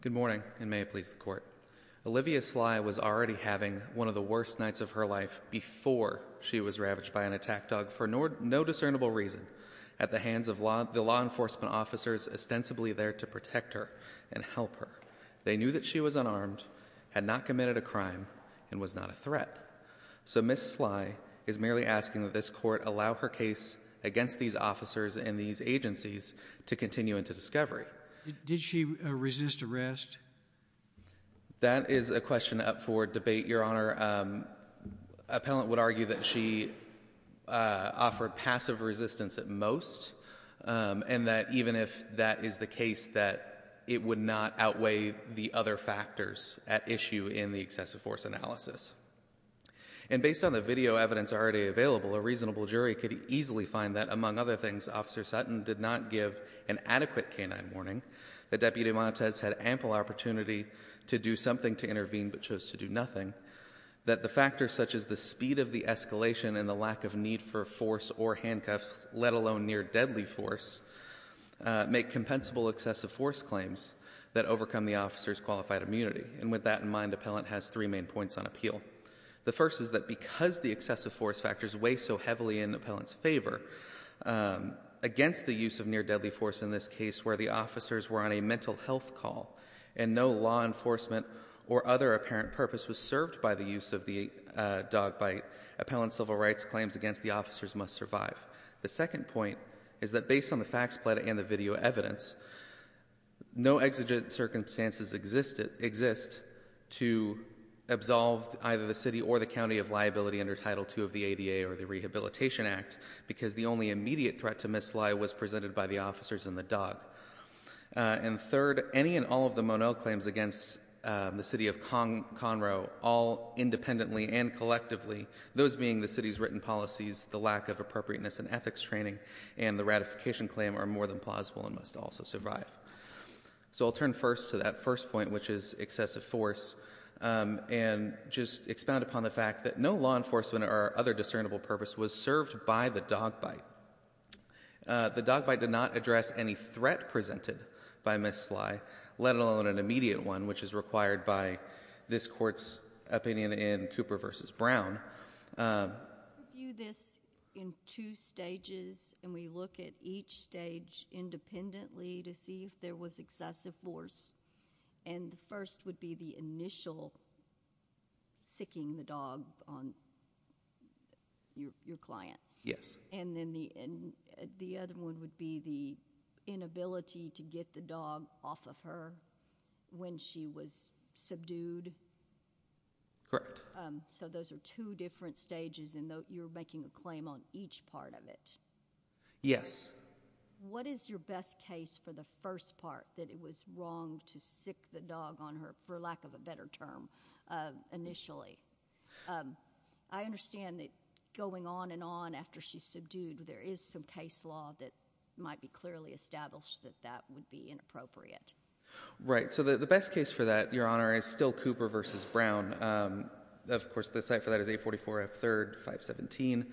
Good morning, and may it please the Court. Olivia Sly was already having one of the worst nights of her life before she was ravaged by an attack dog for no discernible reason at the hands of the law enforcement officers ostensibly there to protect her and help her. They knew that she was unarmed, had not committed a crime, and was not a threat. So Ms. Sly is merely asking that this Court allow her case against these officers and these agencies to continue into discovery. Did she resist arrest? That is a question up for debate, Your Honor. Appellant would argue that she offered passive resistance at most, and that even if that is the case, that it would not outweigh the other factors at issue in the excessive force analysis. And based on the video evidence already available, a reasonable jury could easily find that, among other things, Officer Sutton did not give an adequate canine warning, that Deputy Montes had ample opportunity to do something to intervene but chose to do nothing, that the factors such as the speed of the escalation and the lack of need for force or handcuffs, let alone near-deadly force, make compensable excessive force claims that overcome the officer's qualified immunity. And with that in mind, Appellant has three main points on appeal. The first is that because the excessive force factors weigh so heavily in Appellant's favor, against the use of near-deadly force in this case where the officers were on a mental health call and no law enforcement or other apparent purpose was served by the use of the dog bite, Appellant's civil rights claims against the officers must survive. The second point is that based on the facts and the video evidence, no exigent circumstances exist to absolve either the city or the county of liability under Title II of the ADA or the Rehabilitation Act, because the only immediate threat to mislie was presented by the officers and the dog. And third, any and all of the Monell claims against the city of Conroe, all independently and collectively, those being the city's written policies, the lack of appropriateness and ethics training, and the ratification claim are more than plausible and must also survive. So I'll turn first to that first point, which is excessive force, and just expound upon the fact that no law enforcement or other discernible purpose was served by the dog bite. The dog bite did not address any threat presented by mislie, let alone an immediate one, which is required by this Court's opinion in Cooper v. Brown. I view this in two stages, and we look at each stage independently to see if there was excessive force. And the first would be the initial siccing the dog on your client. And then the other one would be the inability to get the dog off of her when she was subdued. Correct. So those are two different stages, and you're making a claim on each part of it? Yes. What is your best case for the first part, that it was wrong to sic the dog on her, for lack of a better term, initially? I understand that going on and on after she's subdued, there is some case law that might be clearly established that that would be inappropriate. Right. So the best case for that, Your Honor, is still Cooper v. Brown. Of course, the site for that is 844 F. 3rd 517.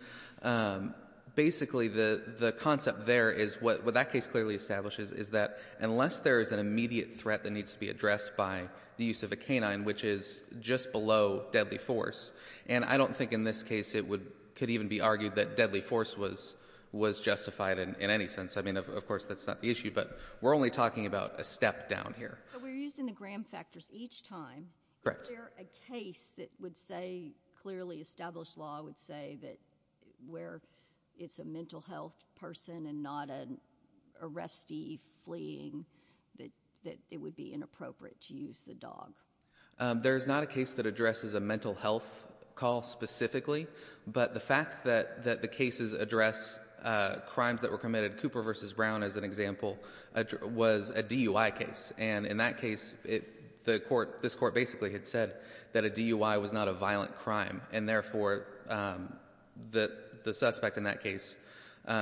Basically the concept there is what that case clearly establishes is that unless there is an immediate threat that needs to be addressed by the use of a canine, which is just below deadly force, and I don't think in this case it could even be argued that deadly force was justified in any sense. I mean, of course, that's not the issue, but we're only talking about a step down here. So we're using the Graham factors each time. Correct. Is there a case that would say, clearly established law would say, that where it's a mental health person and not an arrestee fleeing, that it would be inappropriate to use the dog? There is not a case that addresses a mental health call specifically, but the fact that the cases address crimes that were committed, Cooper v. Brown as an example, was a DUI case, and in that case, the court, this court basically had said that a DUI was not a violent crime, and therefore the suspect in that case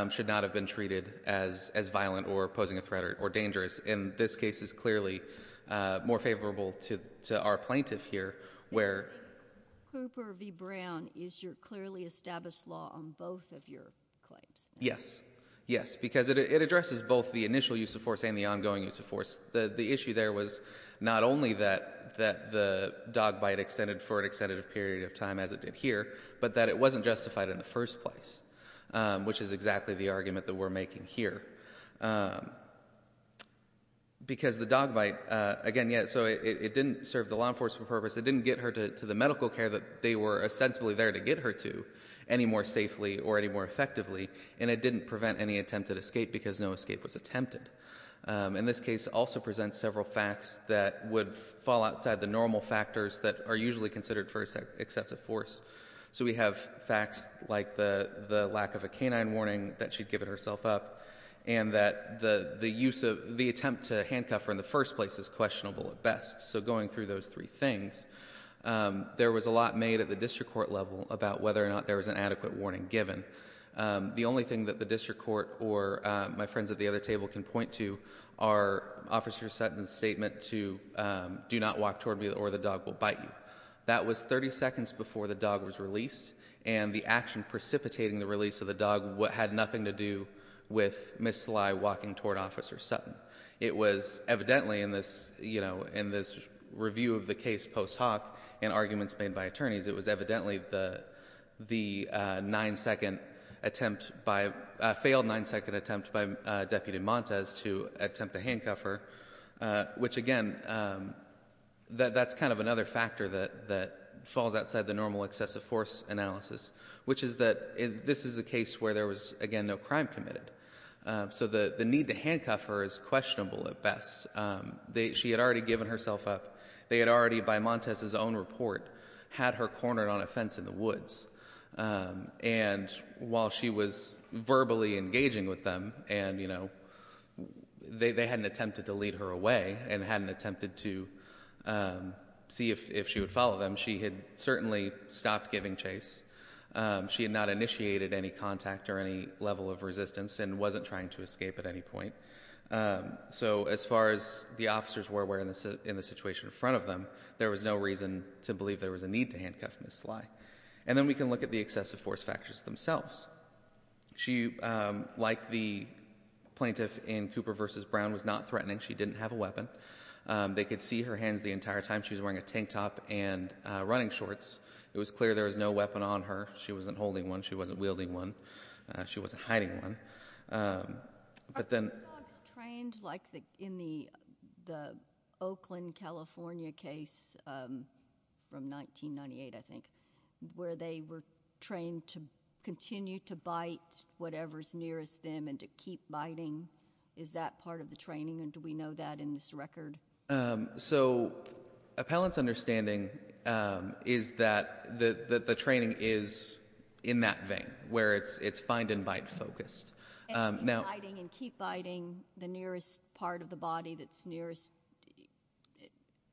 should not have been treated as violent or posing a threat or dangerous. In this case, it's clearly more favorable to our plaintiff here, where— Cooper v. Brown is your clearly established law on both of your claims? Yes. Yes. Because it addresses both the initial use of force and the ongoing use of force. The issue there was not only that the dog bite extended for an extended period of time as it did here, but that it wasn't justified in the first place, which is exactly the argument that we're making here. Because the dog bite, again, so it didn't serve the law enforcement purpose, it didn't get her to the medical care that they were ostensibly there to get her to any more safely or any more effectively, and it didn't prevent any attempted escape because no escape was attempted. In this case, it also presents several facts that would fall outside the normal factors that are usually considered for excessive force. So we have facts like the lack of a canine warning that she'd given herself up, and that the attempt to handcuff her in the first place is questionable at best. So going through those three things, there was a lot made at the district court level about whether or not there was an adequate warning given. The only thing that the district court or my friends at the other table can point to are Officer Sutton's statement to do not walk toward me or the dog will bite you. That was 30 seconds before the dog was released, and the action precipitating the release of the dog had nothing to do with Ms. Sly walking toward Officer Sutton. It was evidently in this review of the case post hoc and arguments made by attorneys, it was evidently the nine-second attempt by, a failed nine-second attempt by Deputy Montes to attempt to handcuff her, which again, that's kind of another factor that falls outside the normal excessive force analysis, which is that this is a case where there was again no crime committed. So the need to handcuff her is questionable at best. She had already given herself up. They had already, by Montes's own report, had her cornered on a fence in the woods. And while she was verbally engaging with them, and they hadn't attempted to lead her away and hadn't attempted to see if she would follow them, she had certainly stopped giving chase. She had not initiated any contact or any level of resistance and wasn't trying to escape at any point. So as far as the officers were aware in the situation in front of them, there was no reason to believe there was a need to handcuff Ms. Sly. And then we can look at the excessive force factors themselves. She, like the plaintiff in Cooper v. Brown, was not threatening. She didn't have a weapon. They could see her hands the entire time. She was wearing a tank top and running shorts. It was clear there was no weapon on her. She wasn't holding one. She wasn't wielding one. She wasn't hiding one. Are the dogs trained, like in the Oakland, California case from 1998, I think, where they were trained to continue to bite whatever's nearest them and to keep biting? Is that part of the training, and do we know that in this record? So appellant's understanding is that the training is in that vein, where it's find-and-bite focused. And keep biting the nearest part of the body that's nearest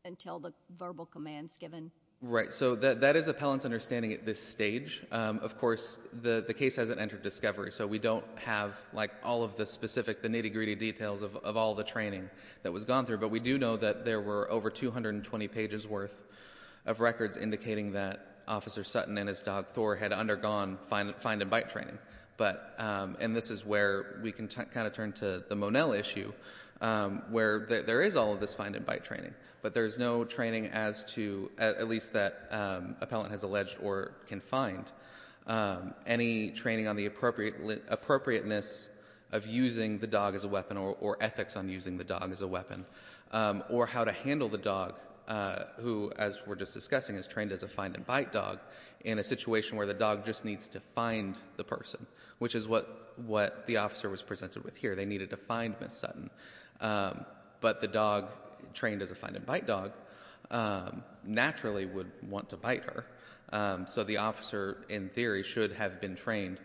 until the verbal command's given? So that is appellant's understanding at this stage. Of course, the case hasn't entered discovery, so we don't have all of the specific, the nitty-gritty details of all the training that was gone through. But we do know that there were over 220 pages worth of records indicating that Officer Sutton and his dog Thor had undergone find-and-bite training. But, and this is where we can kind of turn to the Monell issue, where there is all of this find-and-bite training. But there's no training as to, at least that appellant has alleged or can find, any training on the appropriateness of using the dog as a weapon or ethics on using the dog as a weapon. Or how to handle the dog, who, as we're just discussing, is trained as a find-and-bite dog in a situation where the dog just needs to find the person, which is what the officer was presented with here. They needed to find Miss Sutton. But the dog, trained as a find-and-bite dog, naturally would want to bite her. So the officer, in theory, should have been trained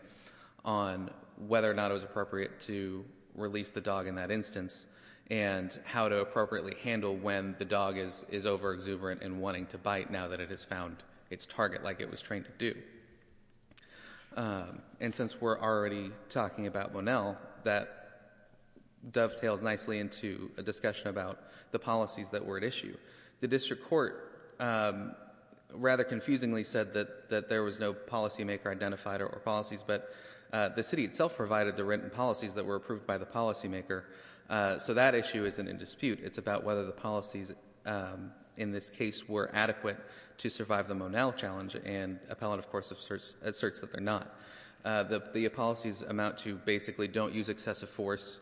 on whether or not it was appropriate to release the dog in that instance and how to appropriately handle when the dog is overexuberant and wanting to bite now that it has found its target like it was trained to do. And since we're already talking about Monell, that dovetails nicely into a discussion about the policies that were at issue. The district court, rather confusingly, said that there was no policymaker identified or policies. But the city itself provided the written policies that were approved by the policymaker. So that issue isn't in dispute. It's about whether the policies in this case were adequate to survive the Monell challenge. And appellate, of course, asserts that they're not. The policies amount to basically don't use excessive force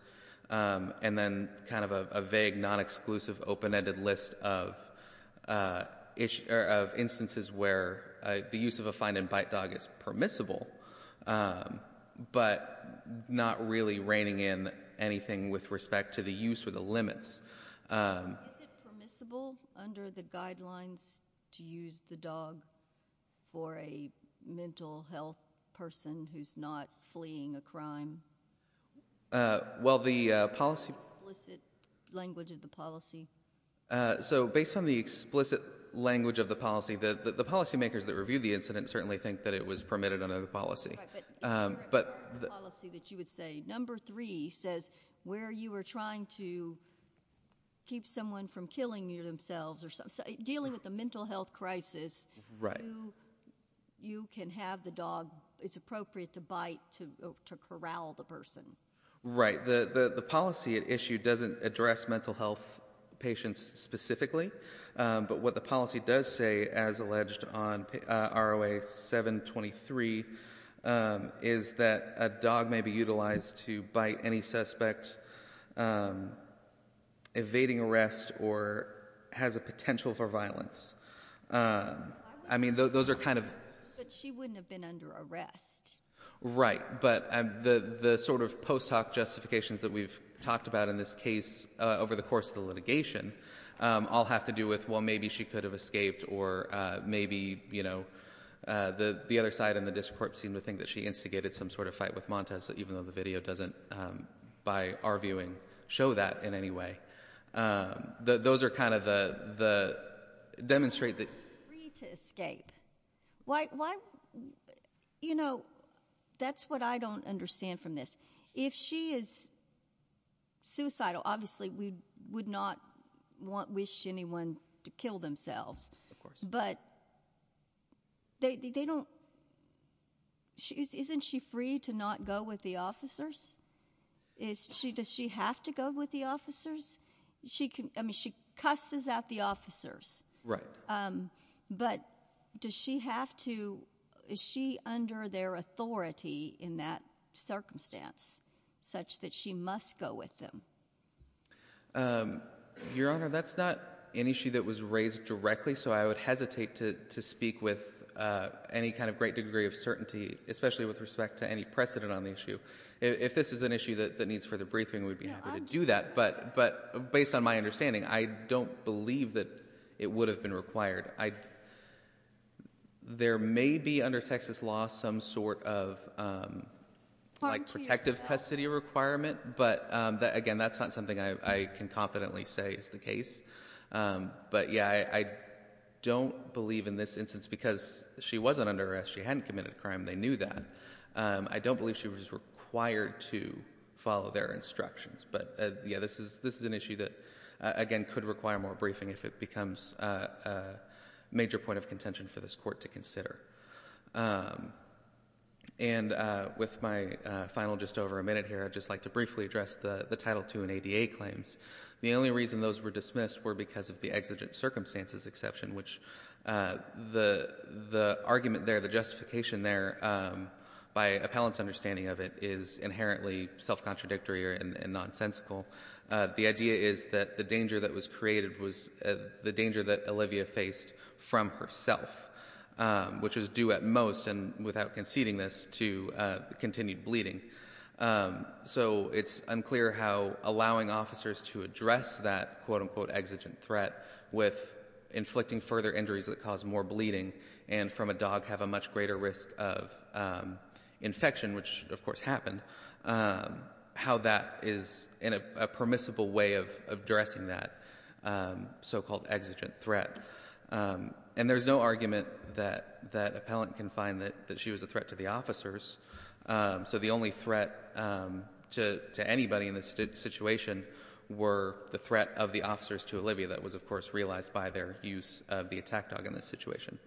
and then kind of a vague, non-exclusive, open-ended list of instances where the use of a find-and-bite dog is permissible but not really reining in anything with respect to the use or the limits. Is it permissible under the guidelines to use the dog for a mental health person who's not fleeing a crime? Well the policy... Is there an explicit language of the policy? So based on the explicit language of the policy, the policymakers that reviewed the incident certainly think that it was permitted under the policy. But the policy that you would say, number three, says where you were trying to keep someone from killing themselves or dealing with a mental health crisis, you can have the dog. It's appropriate to bite, to corral the person. Right. The policy at issue doesn't address mental health patients specifically. But what the policy does say, as alleged on ROA 723, is that a dog may be utilized to bite any suspect evading arrest or has a potential for violence. I mean those are kind of... But she wouldn't have been under arrest. Right. But the sort of post hoc justifications that we've talked about in this case over the course of the litigation all have to do with, well, maybe she could have escaped or maybe, you know, the other side in the district court seemed to think that she instigated some sort of fight with Montez, even though the video doesn't, by our viewing, show that in any way. Those are kind of the... Demonstrate that... Why would she agree to escape? Why... You know, that's what I don't understand from this. If she is suicidal, obviously, we would not wish anyone to kill themselves, but they don't... Isn't she free to not go with the officers? Does she have to go with the officers? She cusses at the officers, but does she have to... in that circumstance, such that she must go with them? Your Honor, that's not an issue that was raised directly, so I would hesitate to speak with any kind of great degree of certainty, especially with respect to any precedent on the issue. If this is an issue that needs further briefing, we'd be happy to do that, but based on my understanding, I don't believe that it would have been required. I... There may be, under Texas law, some sort of protective custody requirement, but again, that's not something I can confidently say is the case, but yeah, I don't believe in this instance, because she wasn't under arrest, she hadn't committed a crime, they knew that, I don't believe she was required to follow their instructions, but yeah, this is an issue that, again, could require more briefing if it becomes a major point of contention for this Court to consider. And with my final just over a minute here, I'd just like to briefly address the Title II and ADA claims. The only reason those were dismissed were because of the exigent circumstances exception, which the argument there, the justification there, by appellant's understanding of it, is inherently self-contradictory and nonsensical. The idea is that the danger that was created was the danger that Olivia faced from herself, which was due at most, and without conceding this, to continued bleeding. So it's unclear how allowing officers to address that quote-unquote exigent threat with inflicting further injuries that cause more bleeding and from a dog have a much greater risk of a permissible way of addressing that so-called exigent threat. And there's no argument that appellant can find that she was a threat to the officers. So the only threat to anybody in this situation were the threat of the officers to Olivia that was, of course, realized by their use of the attack dog in this situation.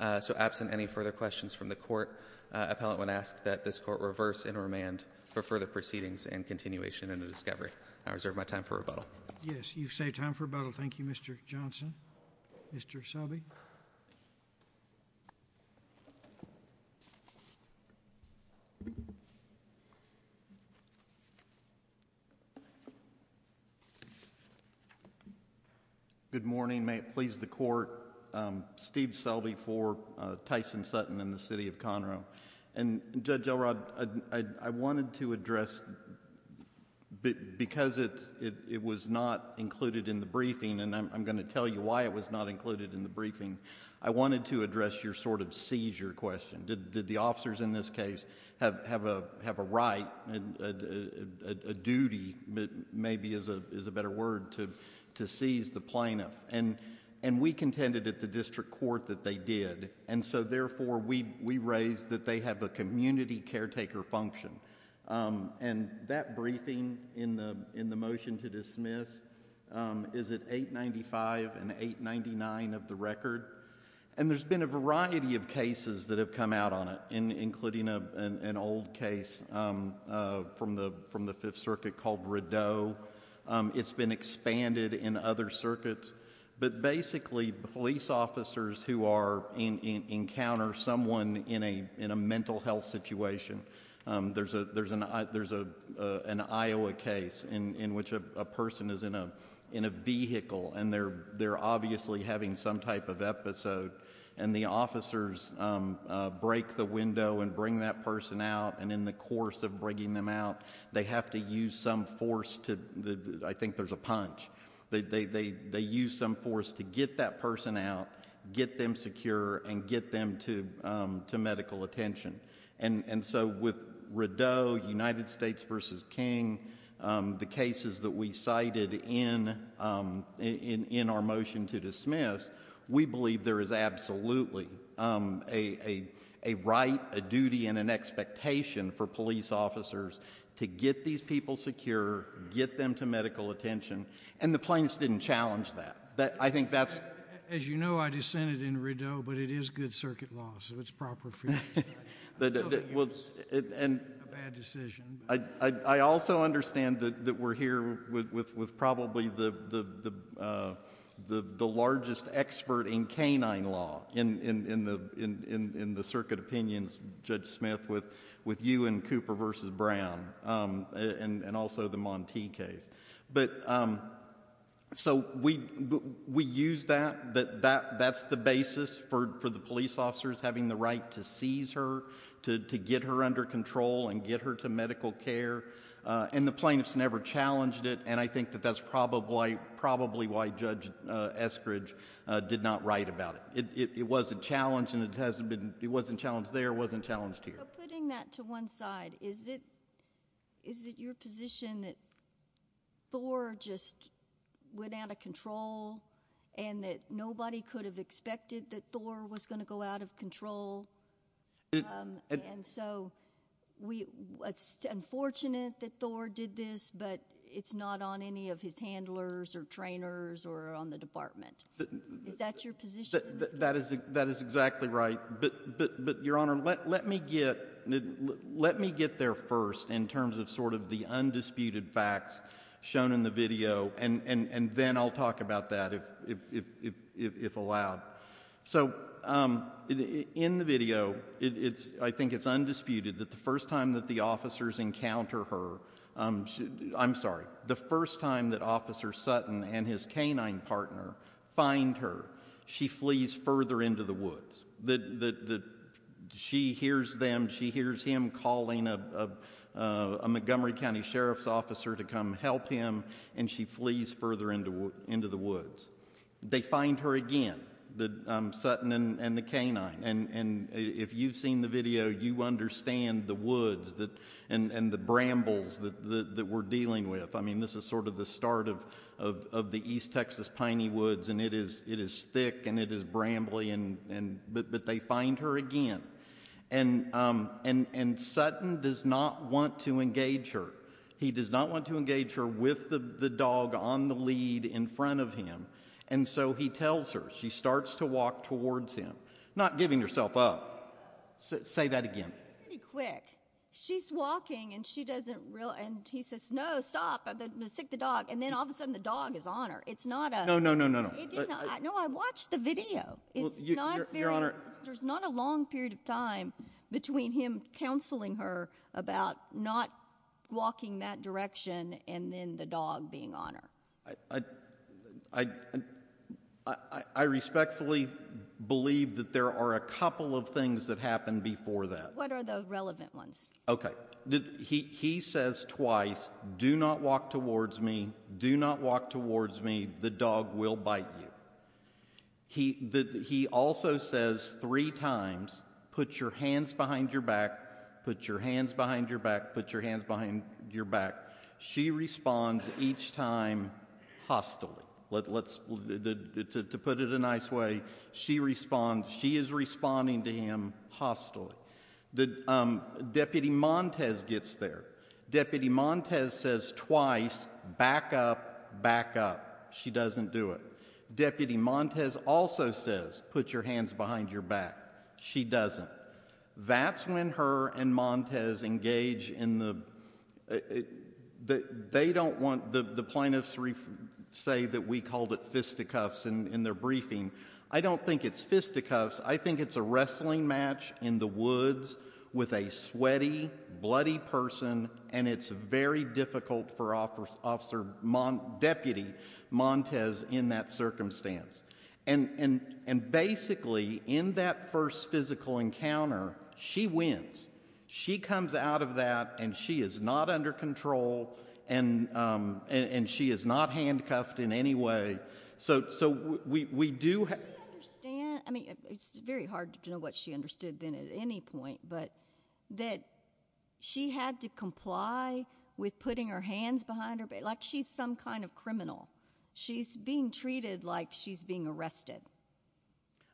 So absent any further questions from the Court, appellant would ask that this Court reverse and remand for further proceedings and continuation into discovery. And I reserve my time for rebuttal. JUSTICE SCALIA. Yes. You've saved time for rebuttal. Thank you, Mr. Johnson. Mr. Selby. STEPHEN SELBY. Good morning. May it please the Court, Steve Selby for Tyson Sutton and the City of Conroe. And Judge Elrod, I wanted to address... because it was not included in the briefing and I'm going to tell you why it was not included in the briefing, I wanted to address your sort of seizure question. Did the officers in this case have a right, a duty, maybe is a better word, to seize the plaintiff? And we contended at the district court that they did. And so, therefore, we raised that they have a community caretaker function. And that briefing in the motion to dismiss is at 895 and 899 of the record. And there's been a variety of cases that have come out on it, including an old case from the Fifth Circuit called Rideau. It's been expanded in other circuits. But basically, police officers who are... encounter someone in a mental health situation. There's an Iowa case in which a person is in a vehicle and they're obviously having some type of episode. And the officers break the window and bring that person out, and in the course of bringing them out, they have to use some force to... I think there's a punch. They use some force to get that person out, get them secure, and get them to medical attention. And so with Rideau, United States v. King, the cases that we cited in our motion to dismiss, we believe there is absolutely a right, a duty, and an expectation for police officers to get these people secure, get them to medical attention. And the plaintiffs didn't challenge that. I think that's... As you know, I dissented in Rideau, but it is good circuit law, so it's proper... I also understand that we're here with probably the largest expert in canine law in the circuit opinions, Judge Smith, with you and Cooper v. Brown, and also the Montee case. So we use that. That's the basis for the police officers having the right to seize her, to get her under control and get her to medical care. And the plaintiffs never challenged it, and I think that that's probably why Judge Eskridge did not write about it. It wasn't challenged, and it hasn't been... it wasn't challenged there, it wasn't challenged here. But putting that to one side, is it your position that Thor just went out of control and that nobody could have expected that Thor was going to go out of control? And so, it's unfortunate that Thor did this, but it's not on any of his handlers or trainers or on the department. Is that your position? That is exactly right. But, Your Honor, let me get there first in terms of sort of the undisputed facts shown in the video, and then I'll talk about that if allowed. So in the video, I think it's undisputed that the first time that the officers encounter her... I'm sorry, the first time that Officer Sutton and his canine partner find her, she flees further into the woods. She hears him calling a Montgomery County Sheriff's officer to come help him, and she flees further into the woods. They find her again, Sutton and the canine, and if you've seen the video, you understand the woods and the brambles that we're dealing with. I mean, this is sort of the start of the East Texas Piney Woods, and it is thick and it is deep, but they find her again, and Sutton does not want to engage her. He does not want to engage her with the dog on the lead in front of him, and so he tells her. She starts to walk towards him, not giving herself up. Say that again. Pretty quick. She's walking, and he says, no, stop, I'm going to stick the dog, and then all of a sudden the dog is on her. It's not a... No, no, no, no, no. No, I watched the video. It's not very... Your Honor... There's not a long period of time between him counseling her about not walking that direction and then the dog being on her. I respectfully believe that there are a couple of things that happened before that. What are the relevant ones? Okay. He says twice, do not walk towards me, do not walk towards me, the dog will bite you. He also says three times, put your hands behind your back, put your hands behind your back, put your hands behind your back. She responds each time hostilely. To put it a nice way, she is responding to him hostilely. Deputy Montes gets there. Deputy Montes says twice, back up, back up. She doesn't do it. Deputy Montes also says, put your hands behind your back. She doesn't. That's when her and Montes engage in the... They don't want... The plaintiffs say that we called it fisticuffs in their briefing. I don't think it's fisticuffs. I think it's a wrestling match in the woods with a sweaty, bloody person, and it's very difficult for Officer Deputy Montes in that circumstance. Basically, in that first physical encounter, she wins. She comes out of that, and she is not under control, and she is not handcuffed in any way. We do... Do you understand? I mean, it's very hard to know what she understood then at any point, but that she had to comply with putting her hands behind her... Like, she's some kind of criminal. She's being treated like she's being arrested.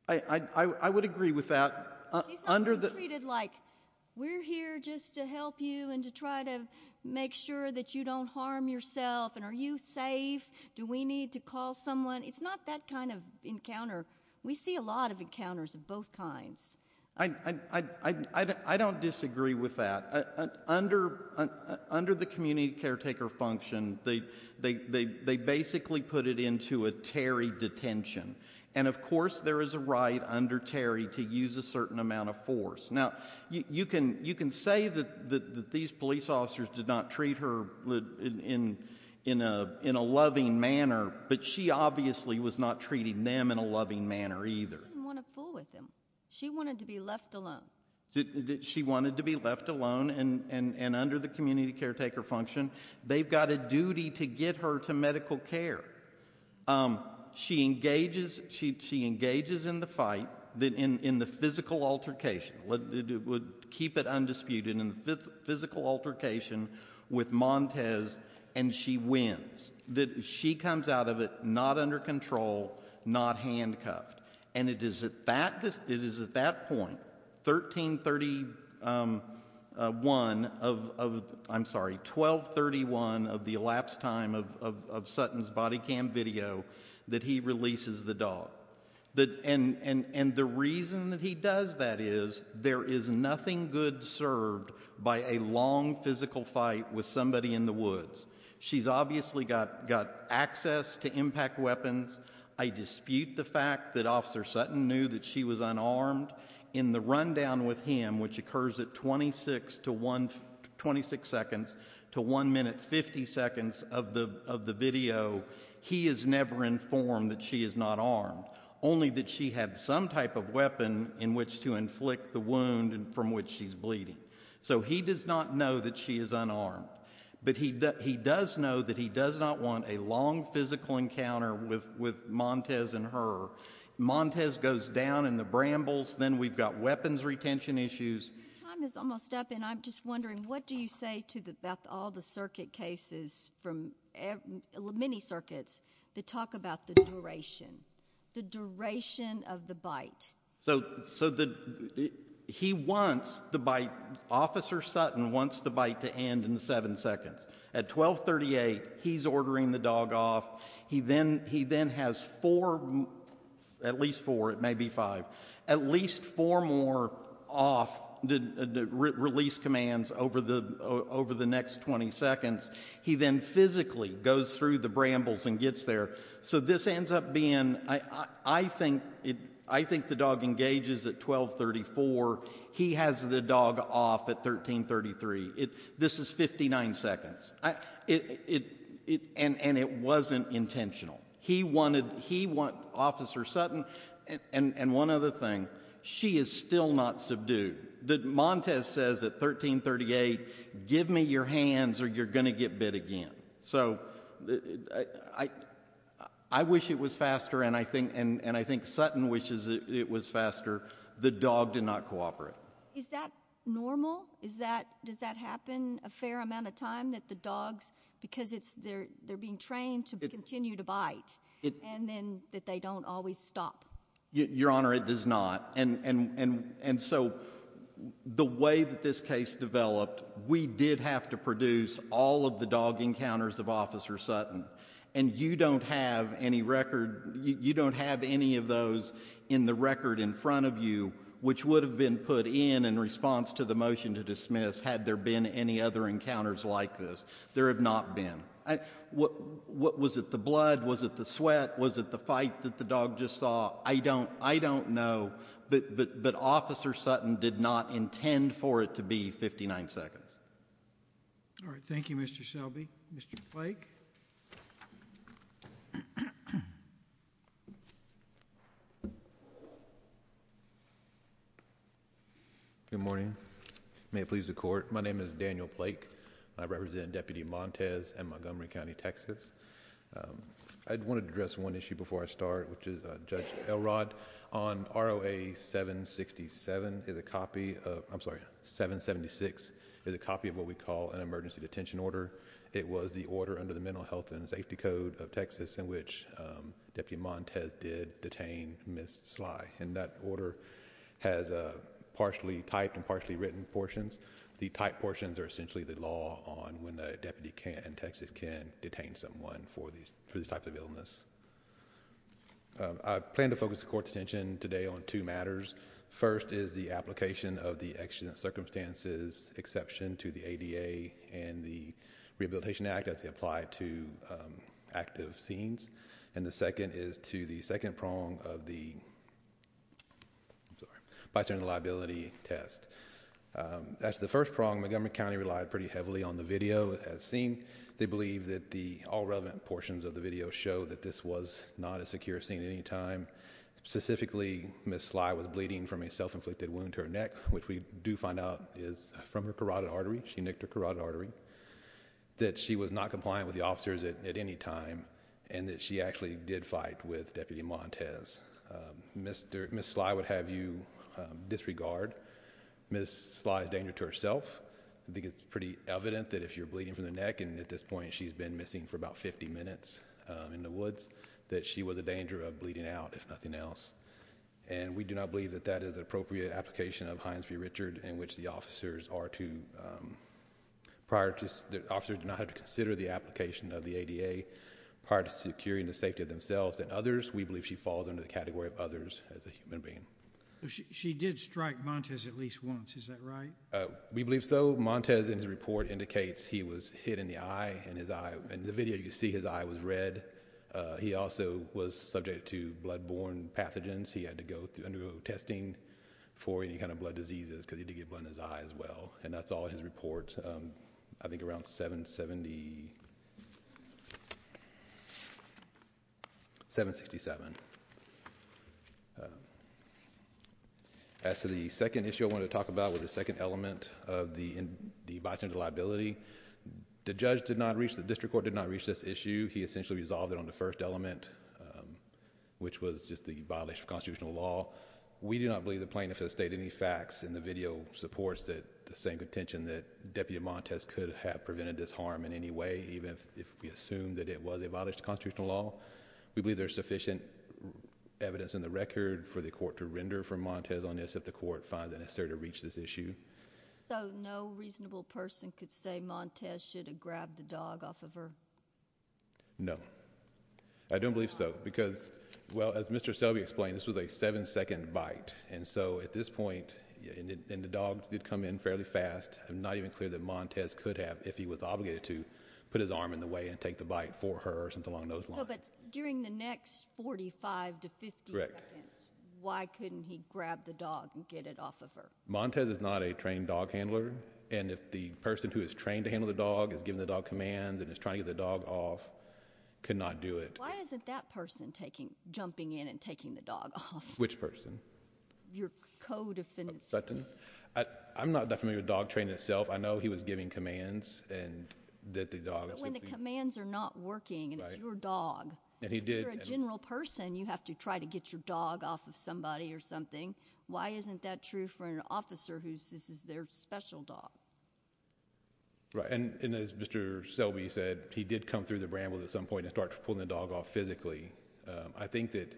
I would agree with that. Under the... She's not being treated like, we're here just to help you and to try to make sure that you don't harm yourself, and are you safe? Do we need to call someone? It's not that kind of encounter. We see a lot of encounters of both kinds. I don't disagree with that. Under the community caretaker function, they basically put it into a Terry detention, and of course, there is a right under Terry to use a certain amount of force. Now, you can say that these police officers did not treat her in a loving manner, but she obviously was not treating them in a loving manner either. She didn't want to fool with him. She wanted to be left alone. She wanted to be left alone, and under the community caretaker function, they've got a duty to get her to medical care. She engages in the fight in the physical altercation, would keep it undisputed, in the physical altercation with Montez, and she wins. She comes out of it not under control, not handcuffed. It is at that point, 1231 of the elapsed time of Sutton's body cam video, that he releases the dog. The reason that he does that is there is nothing good served by a long physical fight with somebody in the woods. She's obviously got access to impact weapons. I dispute the fact that Officer Sutton knew that she was unarmed. In the rundown with him, which occurs at 26 seconds to 1 minute 50 seconds of the video, he is never informed that she is not armed, only that she had some type of weapon in which to inflict the wound from which she's bleeding. So he does not know that she is unarmed, but he does know that he does not want a long physical encounter with Montez and her. Montez goes down in the brambles, then we've got weapons retention issues. Time is almost up, and I'm just wondering, what do you say to all the circuit cases, many circuits, that talk about the duration, the duration of the bite? He wants the bite, Officer Sutton wants the bite to end in seven seconds. At 12.38, he's ordering the dog off. He then has four, at least four, it may be five, at least four more off release commands over the next 20 seconds. He then physically goes through the brambles and gets there. So this ends up being, I think the dog engages at 12.34, he has the dog off at 13.33. This is 59 seconds. And it wasn't intentional. He wanted Officer Sutton, and one other thing, she is still not subdued. Montez says at 13.38, give me your hands or you're going to get bit again. So I wish it was faster, and I think Sutton wishes it was faster. The dog did not cooperate. Is that normal? Does that happen a fair amount of time, that the dogs, because they're being trained to continue to bite, and then that they don't always stop? Your Honor, it does not. And so the way that this case developed, we did have to produce all of the dog encounters of Officer Sutton. And you don't have any record, you don't have any of those in the record in front of you which would have been put in, in response to the motion to dismiss, had there been any other encounters like this. There have not been. What was it, the blood? Was it the sweat? Was it the fight that the dog just saw? I don't know, but Officer Sutton did not intend for it to be 59 seconds. All right, thank you, Mr. Shelby. Mr. Flake. Good morning. May it please the Court. My name is Daniel Flake, and I represent Deputy Montes in Montgomery County, Texas. I wanted to address one issue before I start, which is Judge Elrod. On ROA 767, there's a copy of, I'm sorry, 776, there's a copy of what we call an emergency detention order. It was the order under the Mental Health and Safety Code of Texas in which Deputy Montes did detain Ms. Sly. And that order has a partially typed and partially written portions. The typed portions are essentially the law on when a deputy can, in Texas, can detain someone for these, for these types of illness. I plan to focus the Court's attention today on two matters. First is the application of the accident circumstances exception to the ADA and the Rehabilitation Act as they apply to active scenes. And the second is to the second prong of the, I'm sorry, bystander liability test. That's the first prong. Montgomery County relied pretty heavily on the video as seen. They believe that the all relevant portions of the video show that this was not a secure scene at any time. Specifically Ms. Sly was bleeding from a self-inflicted wound to her neck, which we do find out is from her carotid artery. She nicked her carotid artery. That she was not compliant with the officers at any time and that she actually did fight with Deputy Montez. Ms. Sly would have you disregard. Ms. Sly's danger to herself. I think it's pretty evident that if you're bleeding from the neck, and at this point she's been missing for about 50 minutes in the woods, that she was a danger of bleeding out if nothing else. And we do not believe that that is an appropriate application of Hines v. Richard in which the officers do not have to consider the application of the ADA prior to securing the safety of themselves and others. We believe she falls under the category of others as a human being. She did strike Montez at least once, is that right? We believe so. Montez in his report indicates he was hit in the eye and his eye and the video you see his eye was red. He also was subject to bloodborne pathogens. He had to undergo testing for any kind of blood diseases because he did get blood in his eye as well. And that's all in his report, I think around 770, 767. As to the second issue I wanted to talk about was the second element of the bystander liability. The judge did not reach, the district court did not reach this issue. He essentially resolved it on the first element, which was just the violation of constitutional law. We do not believe the plaintiff has stated any facts in the video supports that the same contention that Deputy Montez could have prevented this harm in any way even if we assume that it was a violation of constitutional law. We believe there's sufficient evidence in the record for the court to render for Montez on this if the court finds it necessary to reach this issue. So no reasonable person could say Montez should have grabbed the dog off of her? No. I don't believe so. Because, well, as Mr. Selby explained, this was a seven-second bite. And so at this point, and the dog did come in fairly fast, I'm not even clear that Montez could have, if he was obligated to, put his arm in the way and take the bite for her or something along those lines. No, but during the next 45 to 50 seconds, why couldn't he grab the dog and get it off of her? Montez is not a trained dog handler. And if the person who is trained to handle the dog is giving the dog commands and is trying to get the dog off, could not do it. Why isn't that person jumping in and taking the dog off? Which person? Your co-defendant. Sutton? I'm not that familiar with dog training itself. I know he was giving commands and that the dog was— But when the commands are not working and it's your dog— And he did— If you're a general person, you have to try to get your dog off of somebody or something. Why isn't that true for an officer whose—this is their special dog? Right. And as Mr. Selby said, he did come through the brambles at some point and start pulling the dog off physically. I think that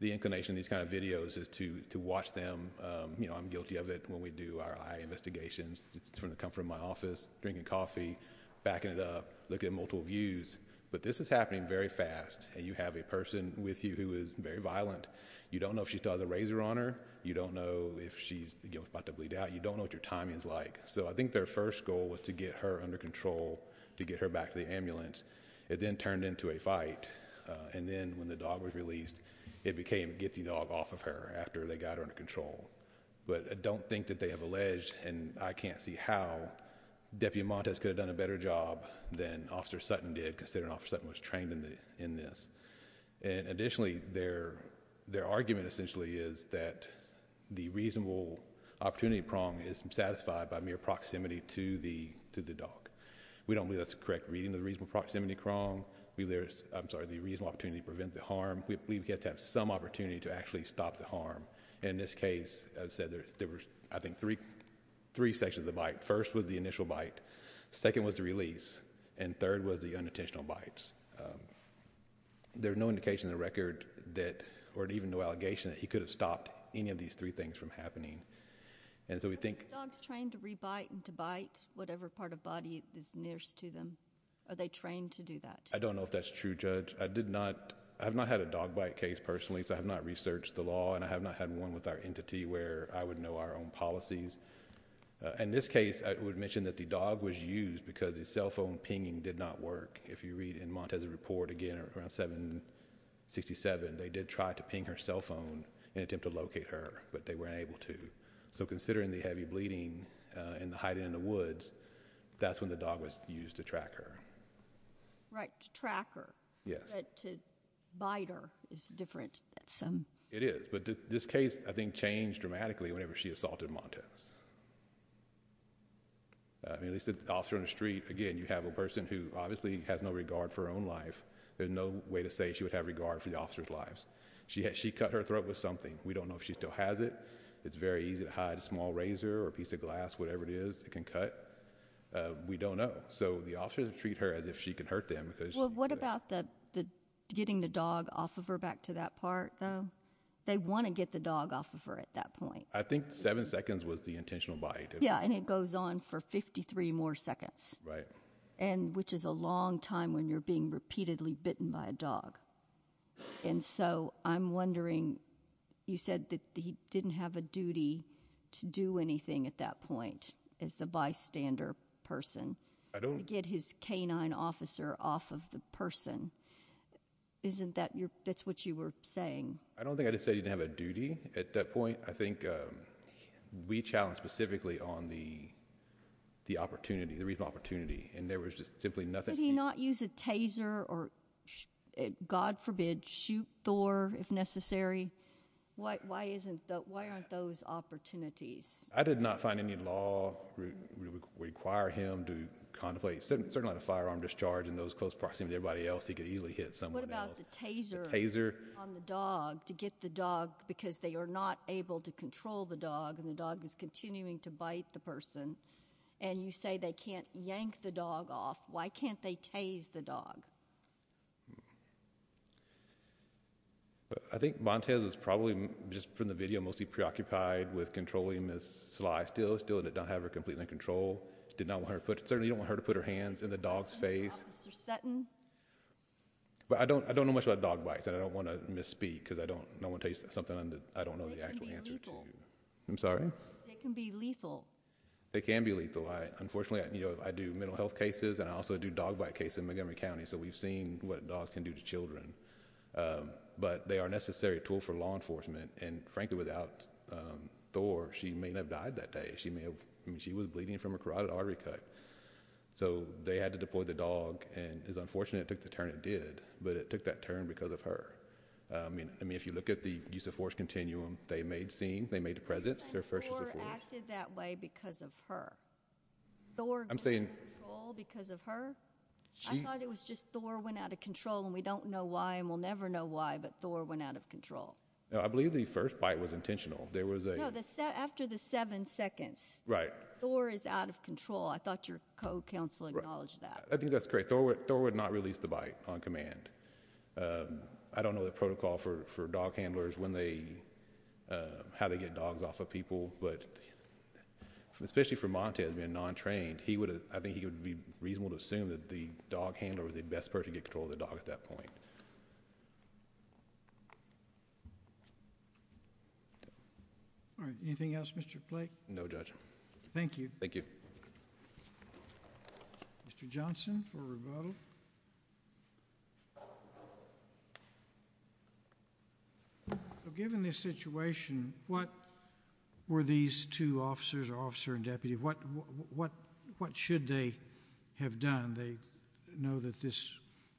the inclination of these kind of videos is to watch them. You know, I'm guilty of it when we do our eye investigations, just from the comfort of my office, drinking coffee, backing it up, looking at multiple views. But this is happening very fast and you have a person with you who is very violent. You don't know if she still has a razor on her. You don't know if she's about to bleed out. You don't know what your timing is like. So I think their first goal was to get her under control, to get her back to the ambulance. It then turned into a fight. And then when the dog was released, it became, get the dog off of her after they got her under control. But I don't think that they have alleged, and I can't see how, Deputy Montes could have done a better job than Officer Sutton did, considering Officer Sutton was trained in this. And additionally, their argument essentially is that the reasonable opportunity prong is satisfied by mere proximity to the dog. We don't believe that's a correct reading of the reasonable proximity prong. We believe there's, I'm sorry, the reasonable opportunity to prevent the harm. We believe we have to have some opportunity to actually stop the harm. In this case, as I said, there were, I think, three sections of the bite. First was the initial bite, second was the release, and third was the unintentional bites. There's no indication in the record that, or even no allegation that he could have stopped any of these three things from happening. And so we think- Are the dogs trained to re-bite and to bite whatever part of body is nearest to them? Are they trained to do that? I don't know if that's true, Judge. I did not, I have not had a dog bite case personally, so I have not researched the law and I have not had one with our entity where I would know our own policies. In this case, I would mention that the dog was used because the cell phone pinging did not work. If you read in Montes' report, again, around 767, they did try to ping her cell phone in attempt to locate her, but they weren't able to. So considering the heavy bleeding and the hiding in the woods, that's when the dog was used to track her. Right. To track her. Yes. But to bite her is different than some- It is. But this case, I think, changed dramatically whenever she assaulted Montes. I mean, at least the officer on the street, again, you have a person who obviously has no regard for her own life. There's no way to say she would have regard for the officer's lives. She cut her throat with something. We don't know if she still has it. It's very easy to hide a small razor or a piece of glass, whatever it is, it can cut. We don't know. So the officers treat her as if she can hurt them because she- What about the getting the dog off of her back to that part, though? They want to get the dog off of her at that point. I think seven seconds was the intentional bite. Yeah, and it goes on for 53 more seconds. Right. And which is a long time when you're being repeatedly bitten by a dog. And so I'm wondering, you said that he didn't have a duty to do anything at that point as the bystander person. I don't- To get his canine officer off of the person. Isn't that your- that's what you were saying? I don't think I just said he didn't have a duty at that point. I think we challenged specifically on the opportunity, the reason for opportunity, and there was just simply nothing- Why did he not use a taser or, God forbid, shoot Thor if necessary? Why aren't those opportunities? I did not find any law require him to contemplate, certainly not a firearm discharge in those close proximity to everybody else. He could easily hit someone else. What about the taser- The taser- On the dog, to get the dog, because they are not able to control the dog and the dog is continuing to bite the person, and you say they can't yank the dog off. Why can't they tase the dog? I think Montez was probably, just from the video, mostly preoccupied with controlling Ms. Sly still, still did not have her completely in control, did not want her to put- certainly didn't want her to put her hands in the dog's face. Officer Sutton? But I don't know much about dog bites, and I don't want to misspeak because I don't want to tell you something I don't know the actual answer to. They can be lethal. I'm sorry? They can be lethal. They can be lethal. Unfortunately, I do mental health cases, and I also do dog bite cases in Montgomery County, so we've seen what dogs can do to children. But they are a necessary tool for law enforcement, and frankly, without Thor, she may not have died that day. She was bleeding from a carotid artery cut. So they had to deploy the dog, and it's unfortunate it took the turn it did, but it took that turn because of her. I mean, if you look at the use-of-force continuum, they made the presence their first use-of-force. But they acted that way because of her. Thor gained control because of her? I thought it was just Thor went out of control, and we don't know why, and we'll never know why, but Thor went out of control. I believe the first bite was intentional. There was a— No, after the seven seconds, Thor is out of control. I thought your co-counsel acknowledged that. I think that's great. Thor would not release the bite on command. I don't know the protocol for dog handlers, how they get dogs off of people, but especially for Montez being non-trained, I think he would be reasonable to assume that the dog handler was the best person to get control of the dog at that point. All right. Anything else, Mr. Blake? No, Judge. Thank you. Thank you. Mr. Johnson for rebuttal. Thank you. Given this situation, what were these two officers, officer and deputy, what should they have done? They know that this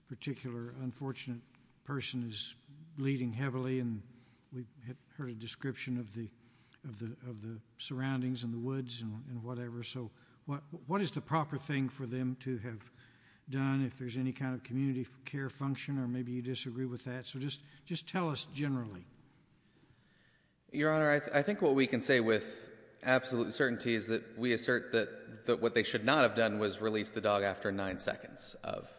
particular unfortunate person is bleeding heavily, and we heard a description of the surroundings and the woods and whatever, so what is the proper thing for them to have done, if there's any kind of community care function, or maybe you disagree with that? So just tell us generally. Your Honor, I think what we can say with absolute certainty is that we assert that what they should not have done was release the dog after nine seconds of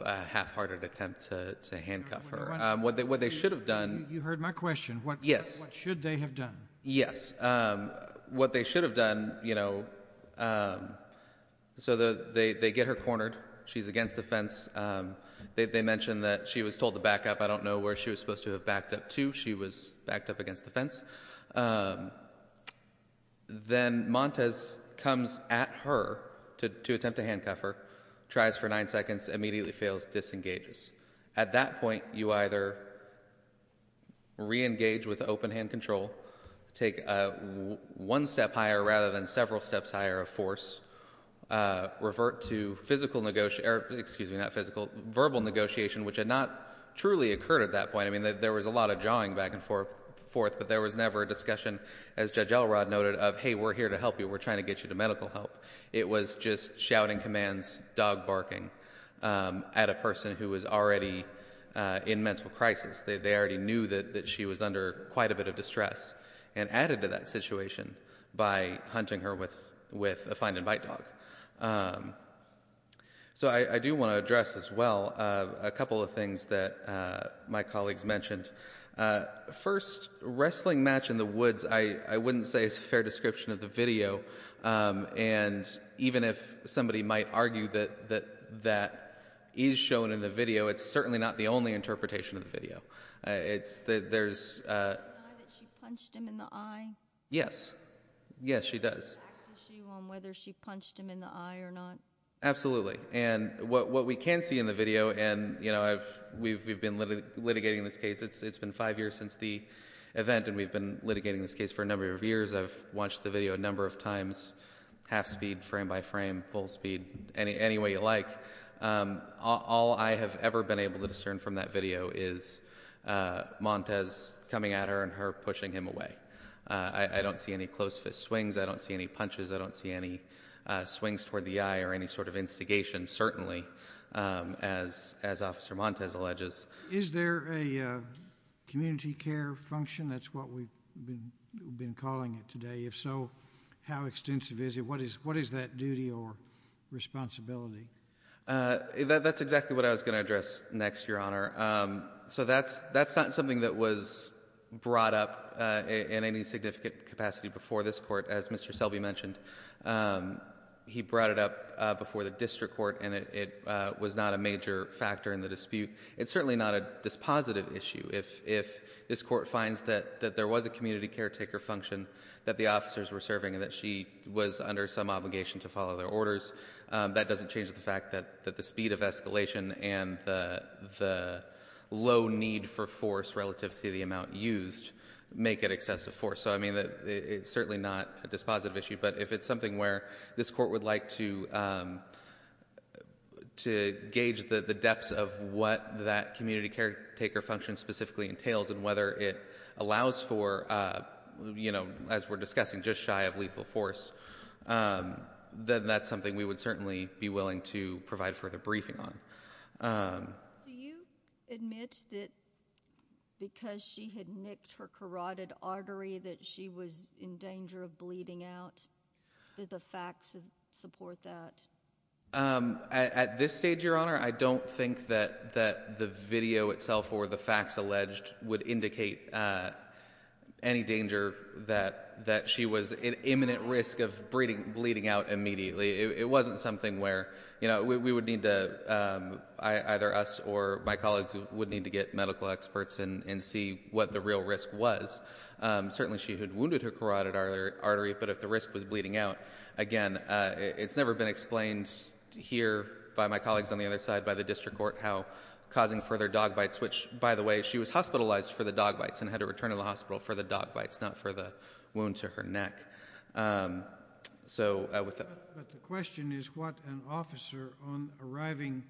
a half-hearted attempt to handcuff her. What they should have done— You heard my question. Yes. What should they have done? Yes. What they should have done, you know, so they get her cornered. She's against the fence. They mention that she was told to back up. I don't know where she was supposed to have backed up to. She was backed up against the fence. Then Montez comes at her to attempt to handcuff her, tries for nine seconds, immediately fails, disengages. At that point, you either reengage with open-hand control, take one step higher rather than several steps higher of force, revert to verbal negotiation, which had not truly occurred at that point. I mean, there was a lot of jawing back and forth, but there was never a discussion, as Judge Elrod noted, of, hey, we're here to help you. We're trying to get you to medical help. It was just shouting commands, dog barking, at a person who was already in mental crisis. They already knew that she was under quite a bit of distress, and added to that situation by hunting her with a find-and-bite dog. So I do want to address, as well, a couple of things that my colleagues mentioned. First, wrestling match in the woods, I wouldn't say is a fair description of the video. And even if somebody might argue that that is shown in the video, it's certainly not the only interpretation of the video. It's that there's— —that she punched him in the eye? Yes. Yes, she does. —a fact issue on whether she punched him in the eye or not? Absolutely. And what we can see in the video, and, you know, we've been litigating this case. It's been five years since the event, and we've been litigating this case for a number of years. I've watched the video a number of times, half-speed, frame-by-frame, full-speed, any way you like. All I have ever been able to discern from that video is Montez coming at her and her pushing him away. I don't see any close-fist swings. I don't see any punches. I don't see any swings toward the eye or any sort of instigation, certainly, as Officer Montez alleges. Is there a community care function? That's what we've been calling it today. If so, how extensive is it? What is that duty or responsibility? That's exactly what I was going to address next, Your Honor. So that's not something that was brought up in any significant capacity before this court, as Mr. Selby mentioned. He brought it up before the district court, and it was not a major factor in the dispute. It's certainly not a dispositive issue if this court finds that there was a community caretaker function that the officers were serving and that she was under some obligation to follow their orders. That doesn't change the fact that the speed of escalation and the low need for force relative to the amount used make it excessive force. So it's certainly not a dispositive issue, but if it's something where this court would like to gauge the depths of what that community caretaker function specifically entails and whether it allows for, as we're discussing, just shy of lethal force, then that's something we would certainly be willing to provide further briefing on. Do you admit that because she had nicked her carotid artery that she was in danger of bleeding out? Do the facts support that? At this stage, Your Honor, I don't think that the video itself or the facts alleged would indicate any danger that she was in imminent risk of bleeding out immediately. It wasn't something where we would need to, either us or my colleagues would need to get medical experts and see what the real risk was. Certainly she had wounded her carotid artery, but if the risk was bleeding out, again, it's never been explained here by my colleagues on the other side by the district court how causing further dog bites, which, by the way, she was hospitalized for the dog bites and had to return to the hospital for the dog bites, not for the wound to her neck. So with the- But the question is what an officer on arriving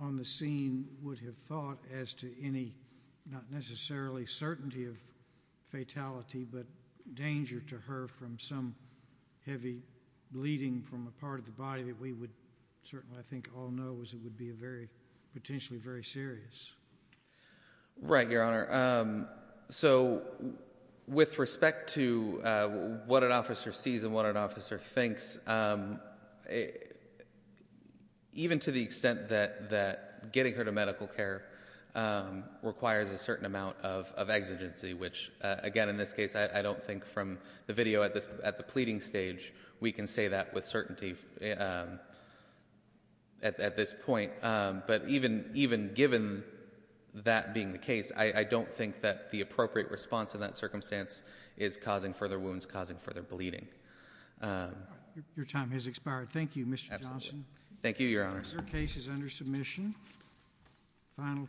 on the scene would have thought as to any, not necessarily certainty of fatality, but danger to her from some heavy bleeding from a part of the body that we would certainly, I think, all know as it would be a very, potentially very serious. Right, Your Honor. So with respect to what an officer sees and what an officer thinks, even to the extent that getting her to medical care requires a certain amount of exigency, which, again, in this case, I don't think from the video at the pleading stage we can say that with certainty at this point. But even given that being the case, I don't think that the appropriate response in that circumstance is causing further wounds, causing further bleeding. Your time has expired. Thank you, Mr. Johnson. Absolutely. Thank you, Your Honor.